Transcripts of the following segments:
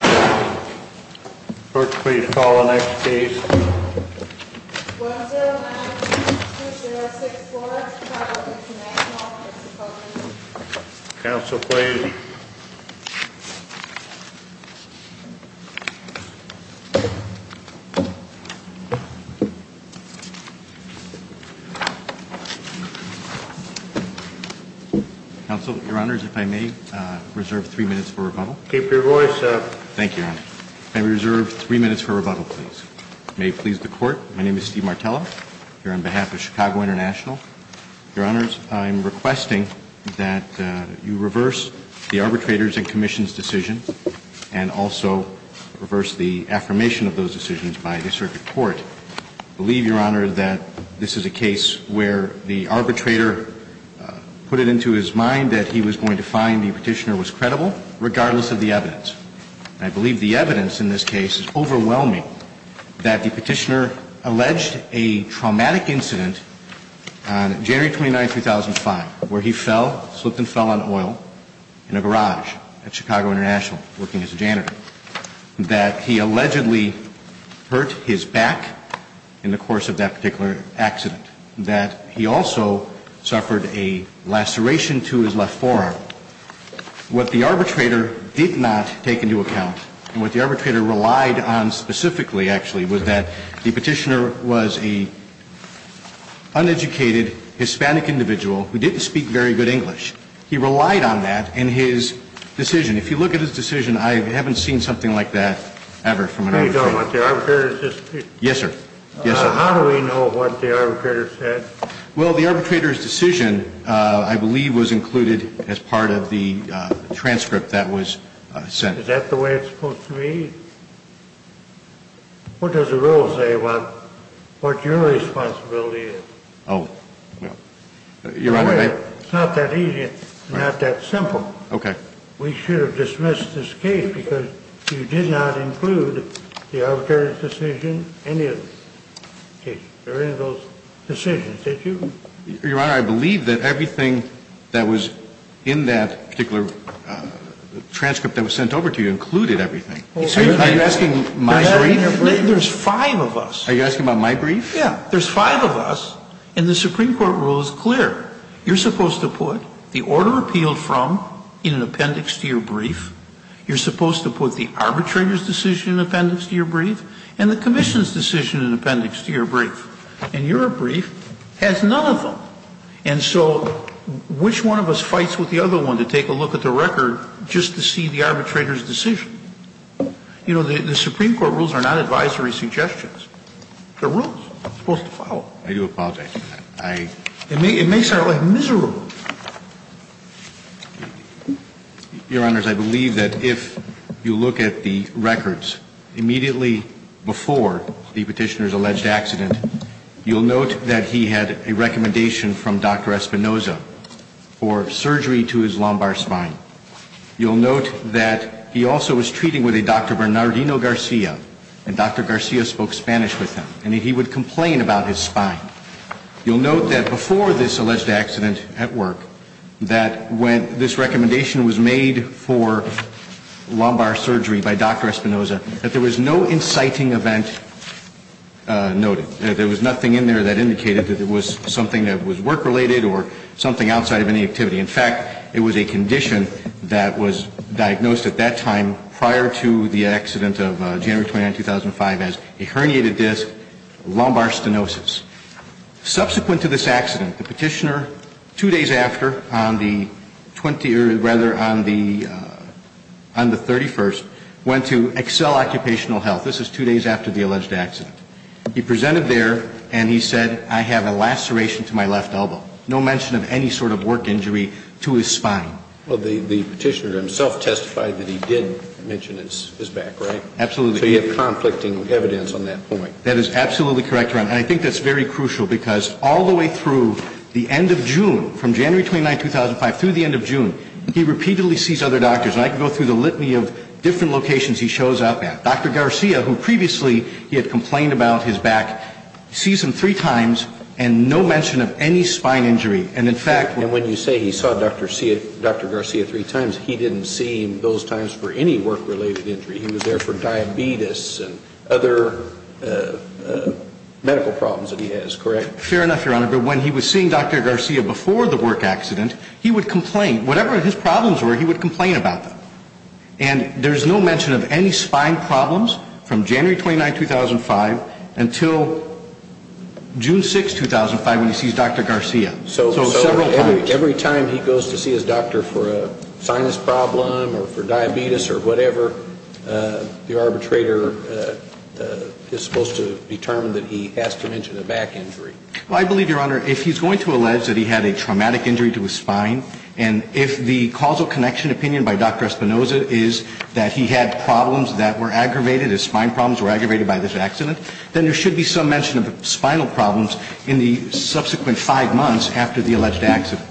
Clerk, please call the next case. 1092064, Chicago v. National, Pennsylvania Counsel, please. Counsel, Your Honours, if I may, I reserve three minutes for rebuttal. May it please the Court, my name is Steve Martello, here on behalf of Chicago International. Your Honours, I am requesting that you reverse the Arbitrators and Commissions decision and also reverse the affirmation of those decisions by the Circuit Court. I believe, Your Honours, that this is a case where the arbitrator put it into his mind that he was going to find the petitioner was credible, regardless of the fact that the petitioner was credible. I believe the evidence in this case is overwhelming, that the petitioner alleged a traumatic incident on January 29, 2005, where he fell, slipped and fell on oil in a garage at Chicago International, working as a janitor. That he allegedly hurt his back in the course of that particular accident. That he also suffered a laceration to his left forearm. What the arbitrator did not take into account, and what the arbitrator relied on specifically, actually, was that the petitioner was an uneducated Hispanic individual who didn't speak very good English. He relied on that in his decision. If you look at his decision, I haven't seen something like that ever from an arbitrator. Yes, sir. Yes, sir. How do we know what the arbitrator said? Well, the arbitrator's decision, I believe, was included as part of the transcript that was sent. Is that the way it's supposed to be? What does the rule say about what your responsibility is? Oh, well, Your Honour, I... It's not that easy, and not that simple. Okay. We should have dismissed this case because you did not include the arbitrator's decision in any of the cases. Or any of those decisions, did you? Your Honour, I believe that everything that was in that particular transcript that was sent over to you included everything. Are you asking my brief? There's five of us. Are you asking about my brief? Yeah. There's five of us, and the Supreme Court rule is clear. You're supposed to put the order appealed from in an appendix to your brief. You're supposed to put the arbitrator's decision in an appendix to your brief and the commission's decision in an appendix to your brief. And your brief has none of them. And so which one of us fights with the other one to take a look at the record just to see the arbitrator's decision? You know, the Supreme Court rules are not advisory suggestions. They're rules. They're supposed to follow. I do apologize. I... It makes our life miserable. Your Honours, I believe that if you look at the records immediately before the petitioner's alleged accident, you'll note that he had a recommendation from Dr. Espinoza for surgery to his lumbar spine. You'll note that he also was treating with a Dr. Bernardino Garcia, and Dr. Garcia spoke Spanish with him. And he would complain about his spine. You'll note that before this alleged accident at work, that when this recommendation was made for lumbar surgery by Dr. Espinoza, that there was no inciting event noted. There was nothing in there that indicated that it was something that was work-related or something outside of any activity. In fact, it was a condition that was diagnosed at that time prior to the accident of January 29, 2005 as a herniated disc lumbar stenosis. Subsequent to this accident, the petitioner, two days after, on the 20th, or rather on the 31st, went to Excel Occupational Health. This is two days after the alleged accident. He presented there, and he said, I have a laceration to my left elbow. No mention of any sort of work injury to his spine. Well, the petitioner himself testified that he did mention his back, right? Absolutely. So you have conflicting evidence on that point. That is absolutely correct, Your Honours. And I think that's very crucial because all the way through the end of June, from January 29, 2005 through the end of June, he repeatedly sees other doctors. And I can go through the litany of different locations he shows up at. Dr. Garcia, who previously he had complained about his back, sees him three times and no mention of any spine injury. And, in fact, when you say he saw Dr. Garcia three times, he didn't see him those times for any work-related injury. He was there for diabetes and other medical problems that he has, correct? Fair enough, Your Honour. But when he was seeing Dr. Garcia before the work accident, he would complain. Whatever his problems were, he would complain about them. And there's no mention of any spine problems from January 29, 2005 until June 6, 2005, when he sees Dr. Garcia. So several times. Every time he goes to see his doctor for a sinus problem or for diabetes or whatever, the arbitrator is supposed to determine that he has to mention a back injury. Well, I believe, Your Honour, if he's going to allege that he had a traumatic injury to his spine, and if the causal connection opinion by Dr. Espinoza is that he had problems that were aggravated, his spine problems were aggravated by this accident, then there should be some mention of spinal problems in the subsequent five months after the alleged accident.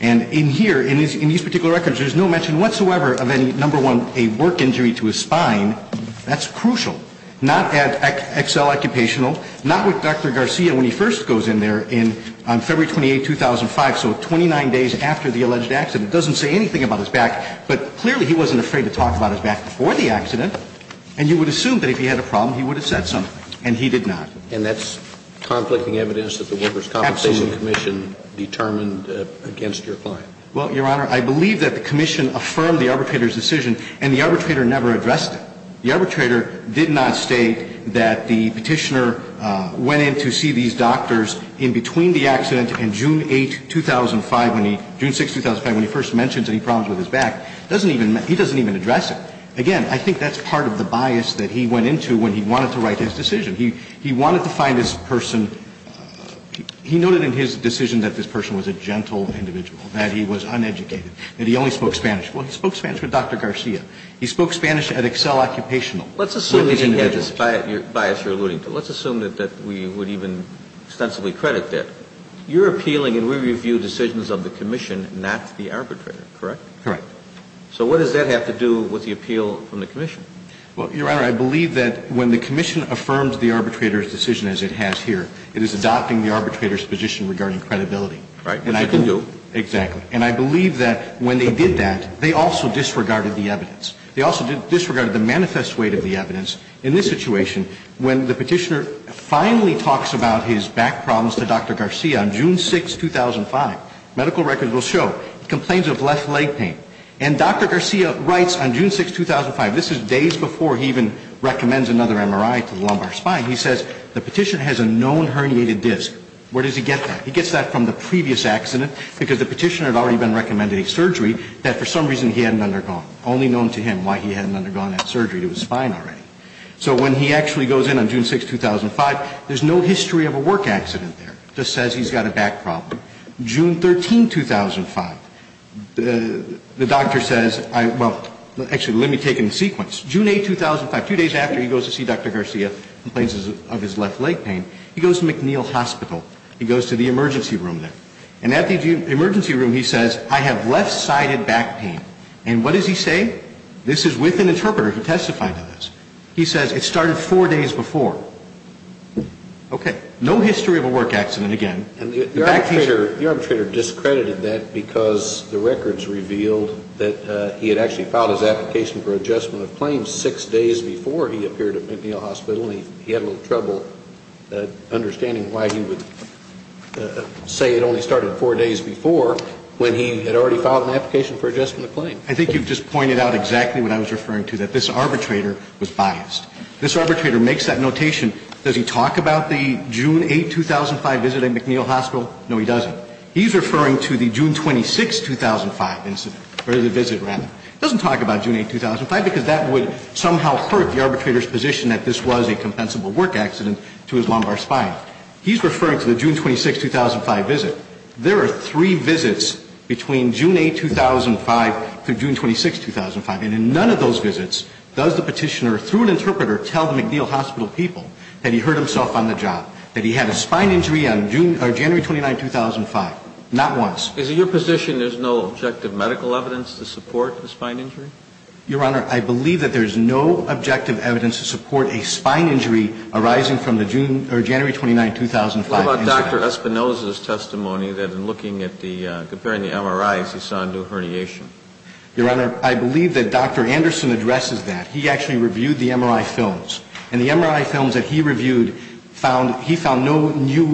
And in here, in these particular records, there's no mention whatsoever of any, number one, a work injury to his spine. That's crucial. Not at XL Occupational, not with Dr. Garcia when he first goes in there on February 28, 2005, so 29 days after the alleged accident. It doesn't say anything about his back, but clearly he wasn't afraid to talk about his back before the accident. And you would assume that if he had a problem, he would have said something. And he did not. And that's conflicting evidence that the Workers' Compensation Commission determined against your client. Absolutely. Well, Your Honour, I believe that the commission affirmed the arbitrator's decision and the arbitrator never addressed it. The arbitrator did not state that the Petitioner went in to see these doctors in between the accident and June 8, 2005, when he, June 6, 2005, when he first mentions any problems with his back. He doesn't even address it. Again, I think that's part of the bias that he went into when he wanted to write his decision. He wanted to find his person. He noted in his decision that this person was a gentle individual, that he was uneducated, that he only spoke Spanish. Well, he spoke Spanish with Dr. Garcia. He spoke Spanish at XL Occupational. Let's assume he had this bias you're alluding to. Let's assume that we would even extensively credit that. You're appealing and we review decisions of the commission, not the arbitrator, correct? Correct. So what does that have to do with the appeal from the commission? Well, Your Honor, I believe that when the commission affirms the arbitrator's decision as it has here, it is adopting the arbitrator's position regarding credibility. Right, which it didn't do. Exactly. And I believe that when they did that, they also disregarded the evidence. They also disregarded the manifest weight of the evidence. In this situation, when the Petitioner finally talks about his back problems to Dr. Garcia on June 6, 2005, medical records will show complaints of left leg pain, right? And Dr. Garcia writes on June 6, 2005, this is days before he even recommends another MRI to the lumbar spine, he says the Petitioner has a known herniated disc. Where does he get that? He gets that from the previous accident because the Petitioner had already been recommended a surgery that for some reason he hadn't undergone. Only known to him why he hadn't undergone that surgery to his spine already. So when he actually goes in on June 6, 2005, there's no history of a work accident there. Just says he's got a back problem. June 13, 2005, the doctor says, well, actually, let me take it in sequence. June 8, 2005, two days after he goes to see Dr. Garcia, complains of his left leg pain, he goes to McNeil Hospital. He goes to the emergency room there. And at the emergency room, he says, I have left-sided back pain. And what does he say? This is with an interpreter who testified to this. He says, it started four days before. Okay. No history of a work accident again. And the arbitrator discredited that because the records revealed that he had actually filed his application for adjustment of claims six days before he appeared at McNeil Hospital. And he had a little trouble understanding why he would say it only started four days before when he had already filed an application for adjustment of claims. I think you've just pointed out exactly what I was referring to, that this arbitrator was biased. This arbitrator makes that notation. Does he talk about the June 8, 2005 visit at McNeil Hospital? No, he doesn't. He's referring to the June 26, 2005 visit. He doesn't talk about June 8, 2005 because that would somehow hurt the arbitrator's position that this was a compensable work accident to his lumbar spine. He's referring to the June 26, 2005 visit. There are three visits between June 8, 2005 through June 26, 2005. And in none of those visits does the Petitioner, through an interpreter, tell the McNeil Hospital people that he hurt himself on the job, that he had a spine injury on January 29, 2005. Not once. Is it your position there's no objective medical evidence to support the spine injury? Your Honor, I believe that there's no objective evidence to support a spine injury arising from the January 29, 2005 incident. What about Dr. Espinoza's testimony that in looking at the ñ comparing the MRIs, he saw a new herniation? Your Honor, I believe that Dr. Anderson addresses that. He actually reviewed the MRI films. And the MRI films that he reviewed found ñ he found no new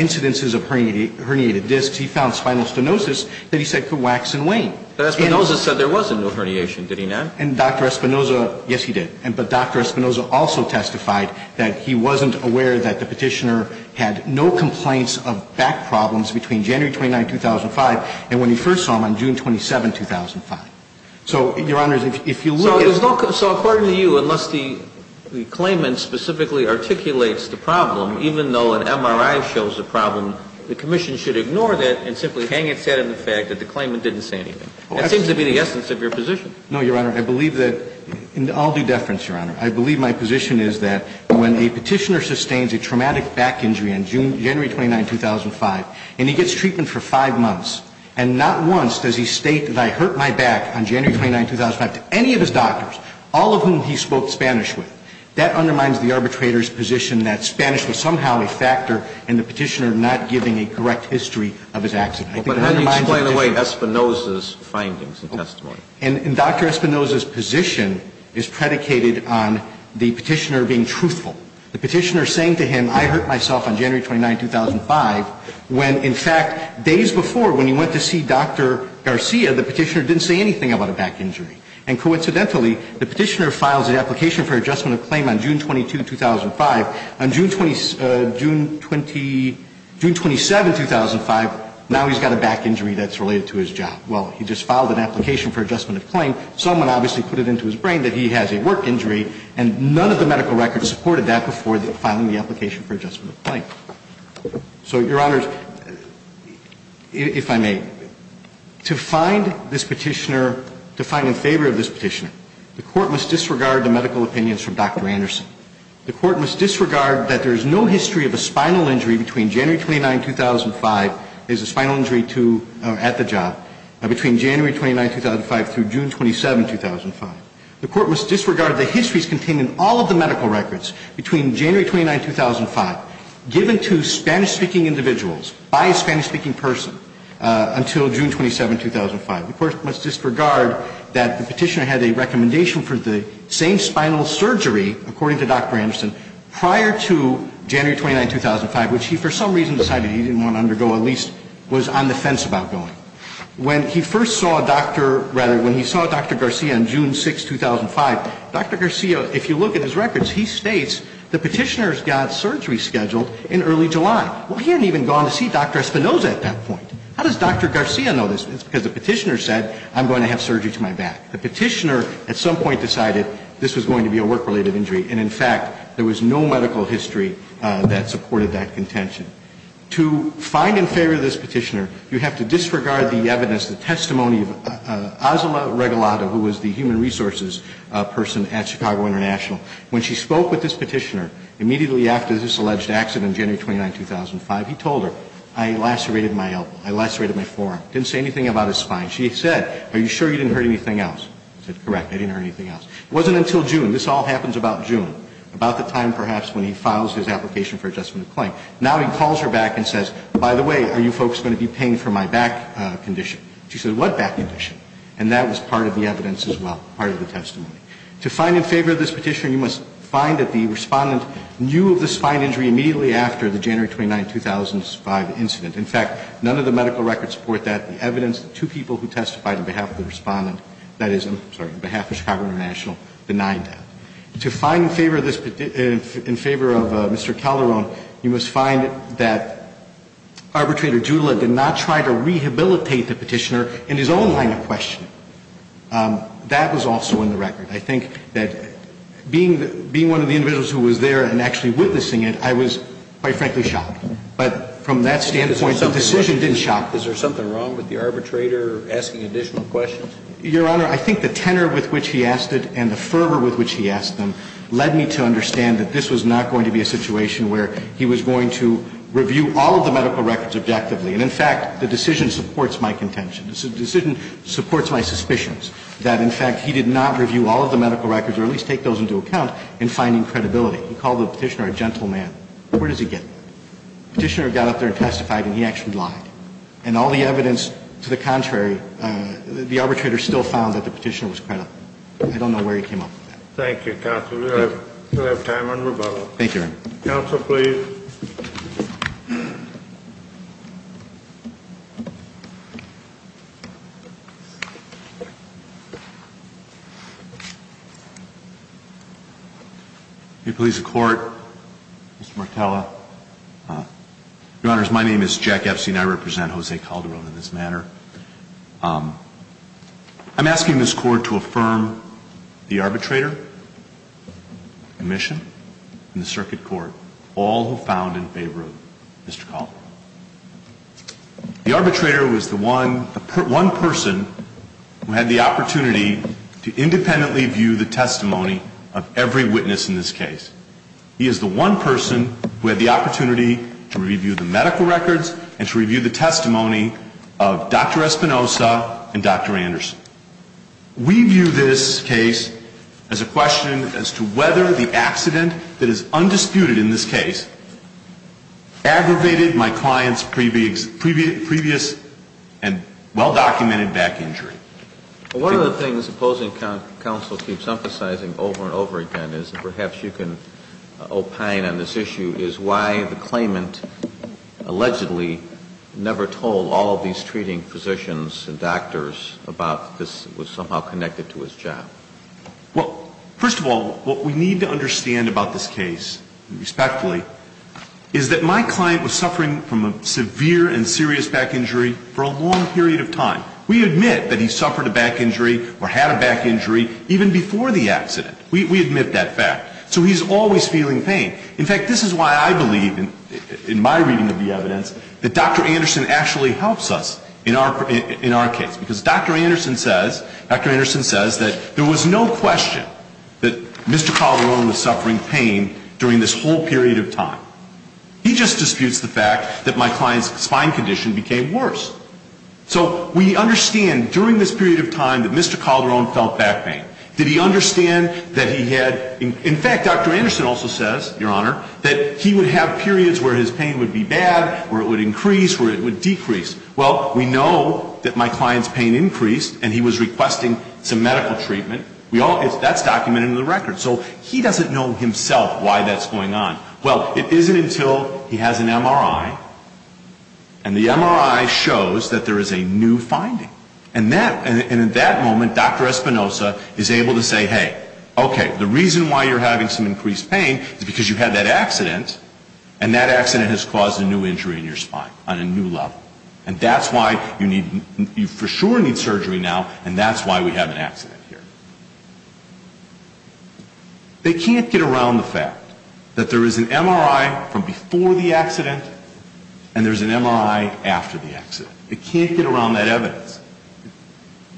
incidences of herniated discs. He found spinal stenosis that he said could wax and wane. But Espinoza said there wasn't no herniation, did he not? And Dr. Espinoza ñ yes, he did. But Dr. Espinoza also testified that he wasn't aware that the Petitioner had no complaints of back problems between January 29, 2005 and when he first saw him on June 27, 2005. So, Your Honor, if you look at ñ So according to you, unless the claimant specifically articulates the problem, even though an MRI shows a problem, the Commission should ignore that and simply hang its head in the fact that the claimant didn't say anything. That seems to be the essence of your position. No, Your Honor. I believe that ñ and I'll do deference, Your Honor. I believe my position is that when a Petitioner sustains a traumatic back injury on January 29, 2005, and he gets treatment for five months, and not once does he state, that I hurt my back on January 29, 2005, to any of his doctors, all of whom he spoke Spanish with, that undermines the arbitrator's position that Spanish was somehow a factor in the Petitioner not giving a correct history of his accident. I think it undermines the Petitioner's ñ But how do you explain away Espinoza's findings and testimony? And Dr. Espinoza's position is predicated on the Petitioner being truthful. The Petitioner saying to him, I hurt myself on January 29, 2005, when, in fact, days before, when he went to see Dr. Garcia, the Petitioner didn't say anything about a back injury. And coincidentally, the Petitioner files an application for adjustment of claim on June 22, 2005. On June 20 ñ June 20 ñ June 27, 2005, now he's got a back injury that's related to his job. Well, he just filed an application for adjustment of claim. Someone obviously put it into his brain that he has a work injury, and none of the medical records supported that before filing the application for adjustment of claim. So, Your Honors, if I may, to find this Petitioner ñ to find in favor of this Petitioner, the Court must disregard the medical opinions from Dr. Anderson. The Court must disregard that there is no history of a spinal injury between January 29, 2005 ñ there's a spinal injury at the job ñ between January 29, 2005 through June 27, 2005. The Court must disregard the histories contained in all of the medical records between January 29, 2005, given to Spanish-speaking individuals by a Spanish-speaking person until June 27, 2005. The Court must disregard that the Petitioner had a recommendation for the same spinal surgery, according to Dr. Anderson, prior to January 29, 2005, which he for some reason decided he didn't want to undergo, at least was on the fence about going. When he first saw Dr. ñ rather, when he saw Dr. Garcia on June 6, 2005, Dr. Garcia, if you look at his records, he states the Petitioner's got surgery scheduled in early July. Well, he hadn't even gone to see Dr. Espinosa at that point. How does Dr. Garcia know this? It's because the Petitioner said, I'm going to have surgery to my back. The Petitioner at some point decided this was going to be a work-related injury, and in fact, there was no medical history that supported that contention. To find in favor of this Petitioner, you have to disregard the evidence, the testimony of Azula Regalado, who was the human resources person at Chicago International. When she spoke with this Petitioner, immediately after this alleged accident on January 29, 2005, he told her, I lacerated my elbow. I lacerated my forearm. Didn't say anything about his spine. She said, are you sure you didn't hurt anything else? He said, correct, I didn't hurt anything else. It wasn't until June. This all happens about June, about the time perhaps when he files his application for adjustment of claim. Now he calls her back and says, by the way, are you folks going to be paying for my back condition? She said, what back condition? And that was part of the evidence as well, part of the testimony. To find in favor of this Petitioner, you must find that the Respondent knew of the spine injury immediately after the January 29, 2005 incident. In fact, none of the medical records support that, the evidence that two people who testified on behalf of the Respondent, that is, I'm sorry, on behalf of Chicago International, denied that. To find in favor of this Petitioner, in favor of Mr. Calderon, you must find that Arbitrator Judah did not try to rehabilitate the Petitioner in his own line of questioning. That was also in the record. I think that being one of the individuals who was there and actually witnessing it, I was, quite frankly, shocked. But from that standpoint, the decision didn't shock me. Is there something wrong with the arbitrator asking additional questions? Your Honor, I think the tenor with which he asked it and the fervor with which he asked them led me to understand that this was not going to be a situation where he was going to review all of the medical records objectively. And, in fact, the decision supports my contention. The decision supports my suspicions that, in fact, he did not review all of the medical records or at least take those into account in finding credibility. He called the Petitioner a gentle man. Where does he get that? The Petitioner got up there and testified, and he actually lied. And all the evidence to the contrary, the arbitrator still found that the Petitioner was credible. I don't know where he came up with that. Thank you, counsel. We'll have time on rebuttal. Thank you, Your Honor. Counsel, please. May it please the Court, Mr. Martella. Your Honors, my name is Jack Epstein. I represent Jose Calderon in this matter. I'm asking this Court to affirm the arbitrator, the commission, and the circuit court, all who found in favor of Mr. Calderon. The arbitrator was the one person who had the opportunity to independently view the testimony of every witness in this case. He is the one person who had the opportunity to review the medical records and to review the testimony of Dr. Espinosa and Dr. Anderson. We view this case as a question as to whether the accident that is undisputed in this case aggravated my client's previous and well-documented back injury. One of the things opposing counsel keeps emphasizing over and over again is, and perhaps you can opine on this issue, is why the claimant allegedly never told all of these treating physicians and doctors about this was somehow connected to his job. Well, first of all, what we need to understand about this case, respectfully, is that my client was suffering from a severe and serious back injury for a long period of time. We admit that he suffered a back injury or had a back injury even before the accident. We admit that fact. So he's always feeling pain. In fact, this is why I believe in my reading of the evidence that Dr. Anderson actually helps us in our case. Because Dr. Anderson says that there was no question that Mr. Calderon was suffering pain during this whole period of time. He just disputes the fact that my client's spine condition became worse. So we understand during this period of time that Mr. Calderon felt back pain. Did he understand that he had, in fact, Dr. Anderson also says, Your Honor, that he would have periods where his pain would be bad, where it would increase, where it would decrease. Well, we know that my client's pain increased and he was requesting some medical treatment. That's documented in the record. So he doesn't know himself why that's going on. Well, it isn't until he has an MRI, and the MRI shows that there is a new finding. And in that moment, Dr. Espinosa is able to say, Hey, okay, the reason why you're having some increased pain is because you had that accident, and that accident has caused a new injury in your spine on a new level. And that's why you for sure need surgery now, and that's why we have an accident here. They can't get around the fact that there is an MRI from before the accident, and there's an MRI after the accident. They can't get around that evidence.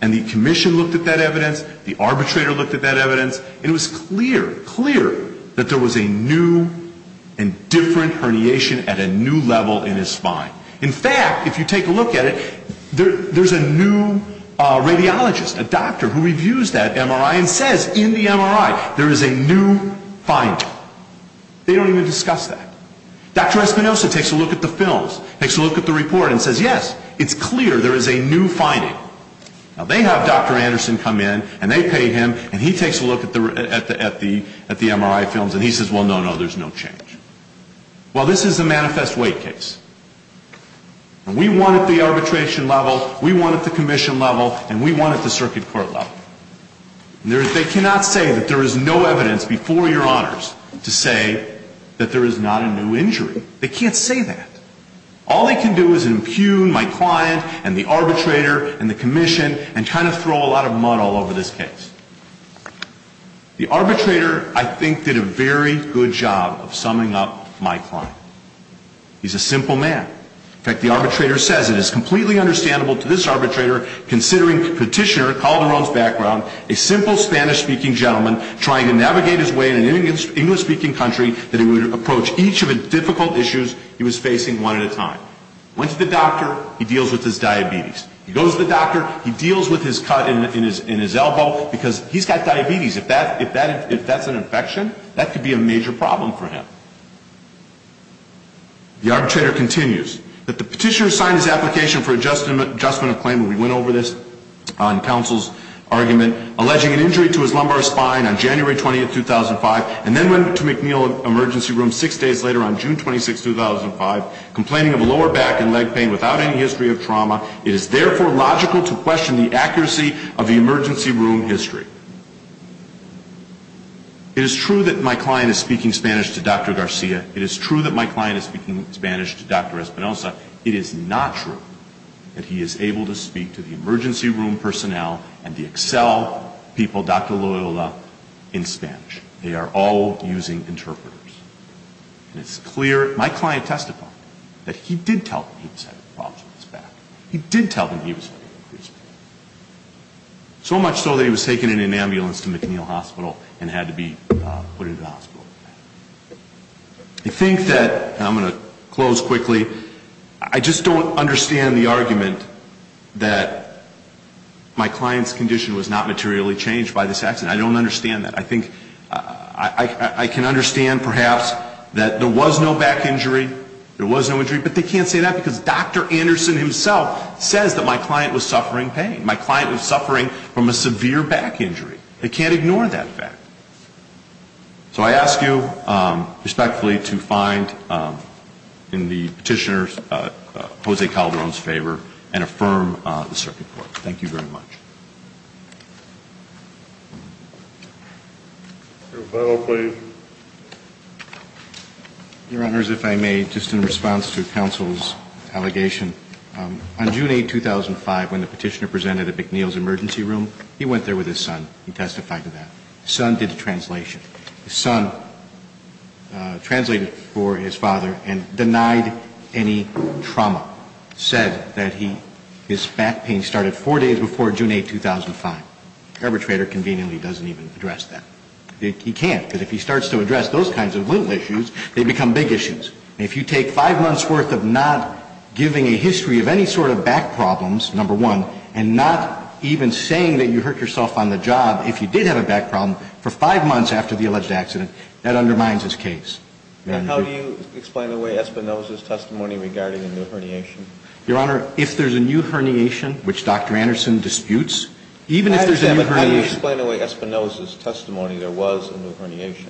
And the commission looked at that evidence, the arbitrator looked at that evidence, and it was clear, clear that there was a new and different herniation at a new level in his spine. In fact, if you take a look at it, there's a new radiologist, a doctor who reviews that MRI and says in the MRI there is a new finding. They don't even discuss that. Dr. Espinosa takes a look at the films, takes a look at the report, and says, Yes, it's clear there is a new finding. Now they have Dr. Anderson come in, and they pay him, and he takes a look at the MRI films, and he says, Well, no, no, there's no change. Well, this is a manifest weight case. And we won at the arbitration level, we won at the commission level, and we won at the circuit court level. They cannot say that there is no evidence before Your Honors to say that there is not a new injury. They can't say that. All they can do is impugn my client and the arbitrator and the commission and kind of throw a lot of mud all over this case. The arbitrator, I think, did a very good job of summing up my client. He's a simple man. In fact, the arbitrator says it is completely understandable to this arbitrator, considering Petitioner, Calderon's background, a simple Spanish-speaking gentleman trying to navigate his way in an English-speaking country that he would approach each of the difficult issues he was facing one at a time. Went to the doctor. He deals with his diabetes. He goes to the doctor. He deals with his cut in his elbow because he's got diabetes. If that's an infection, that could be a major problem for him. The arbitrator continues. That the Petitioner signed his application for adjustment of claim, and we went over this on counsel's argument, alleging an injury to his lumbar spine on January 20, 2005, and then went to McNeil Emergency Room six days later on June 26, 2005, complaining of a lower back and leg pain without any history of trauma. It is, therefore, logical to question the accuracy of the emergency room history. It is true that my client is speaking Spanish to Dr. Garcia. It is true that my client is speaking Spanish to Dr. Espinosa. It is not true that he is able to speak to the emergency room personnel and the Excel people, Dr. Loyola, in Spanish. They are all using interpreters. And it's clear, my client testified, that he did tell them he was having problems with his back. He did tell them he was having a crisis. So much so that he was taken in an ambulance to McNeil Hospital and had to be put into the hospital. I think that, and I'm going to close quickly, I just don't understand the argument that my client's condition was not materially changed by this accident. I don't understand that. I think I can understand, perhaps, that there was no back injury. There was no injury. But they can't say that because Dr. Anderson himself says that my client was suffering pain. My client was suffering from a severe back injury. They can't ignore that fact. So I ask you, respectfully, to find, in the petitioner, Jose Calderon's favor and affirm the circuit court. Thank you very much. Your final plea. Your Honors, if I may, just in response to counsel's allegation, on June 8, 2005, when the petitioner presented at McNeil's emergency room, he went there with his son. He testified to that. His son did a translation. His son translated for his father and denied any trauma, said that his back pain started four days before June 8, 2005. The arbitrator conveniently doesn't even address that. He can't. But if he starts to address those kinds of little issues, they become big issues. And if you take five months' worth of not giving a history of any sort of back problems, number one, and not even saying that you hurt yourself on the job, if you did have a back problem, for five months after the alleged accident, that undermines his case. And how do you explain away Espinoza's testimony regarding a new herniation? Your Honor, if there's a new herniation, which Dr. Anderson disputes, even if there's a new herniation. I understand, but how do you explain away Espinoza's testimony there was a new herniation?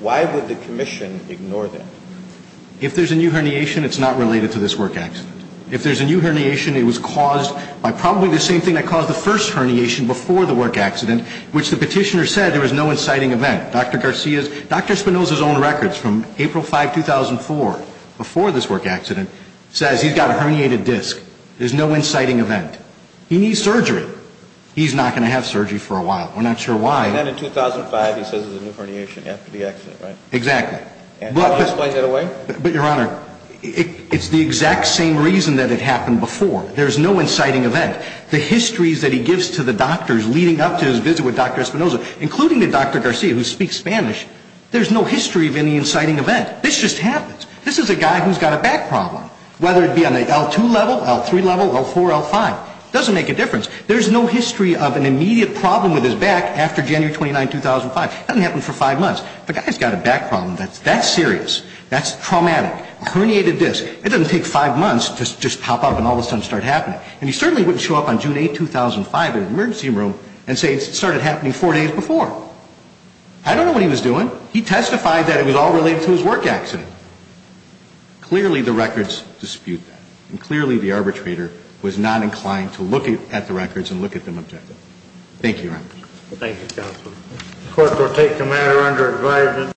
Why would the commission ignore that? If there's a new herniation, it's not related to this work accident. If there's a new herniation, it was caused by probably the same thing that caused the first herniation before the work accident, which the petitioner said there was no inciting event. Dr. Espinoza's own records from April 5, 2004, before this work accident, says he's got a herniated disc. There's no inciting event. He needs surgery. He's not going to have surgery for a while. We're not sure why. And then in 2005, he says there's a new herniation after the accident, right? Exactly. And how do you explain that away? But, Your Honor, it's the exact same reason that it happened before. There's no inciting event. The histories that he gives to the doctors leading up to his visit with Dr. Espinoza, including the Dr. Garcia, who speaks Spanish, there's no history of any inciting event. This just happens. This is a guy who's got a back problem, whether it be on an L2 level, L3 level, L4, L5. It doesn't make a difference. There's no history of an immediate problem with his back after January 29, 2005. It doesn't happen for five months. The guy's got a back problem. That's serious. That's traumatic. A herniated disc. It doesn't take five months to just pop up and all of a sudden start happening. And he certainly wouldn't show up on June 8, 2005 in an emergency room and say it started happening four days before. I don't know what he was doing. He testified that it was all related to his work accident. Clearly, the records dispute that. And clearly, the arbitrator was not inclined to look at the records and look at them objectively. Thank you, Your Honor. Thank you, counsel. The court will take the matter under advisory.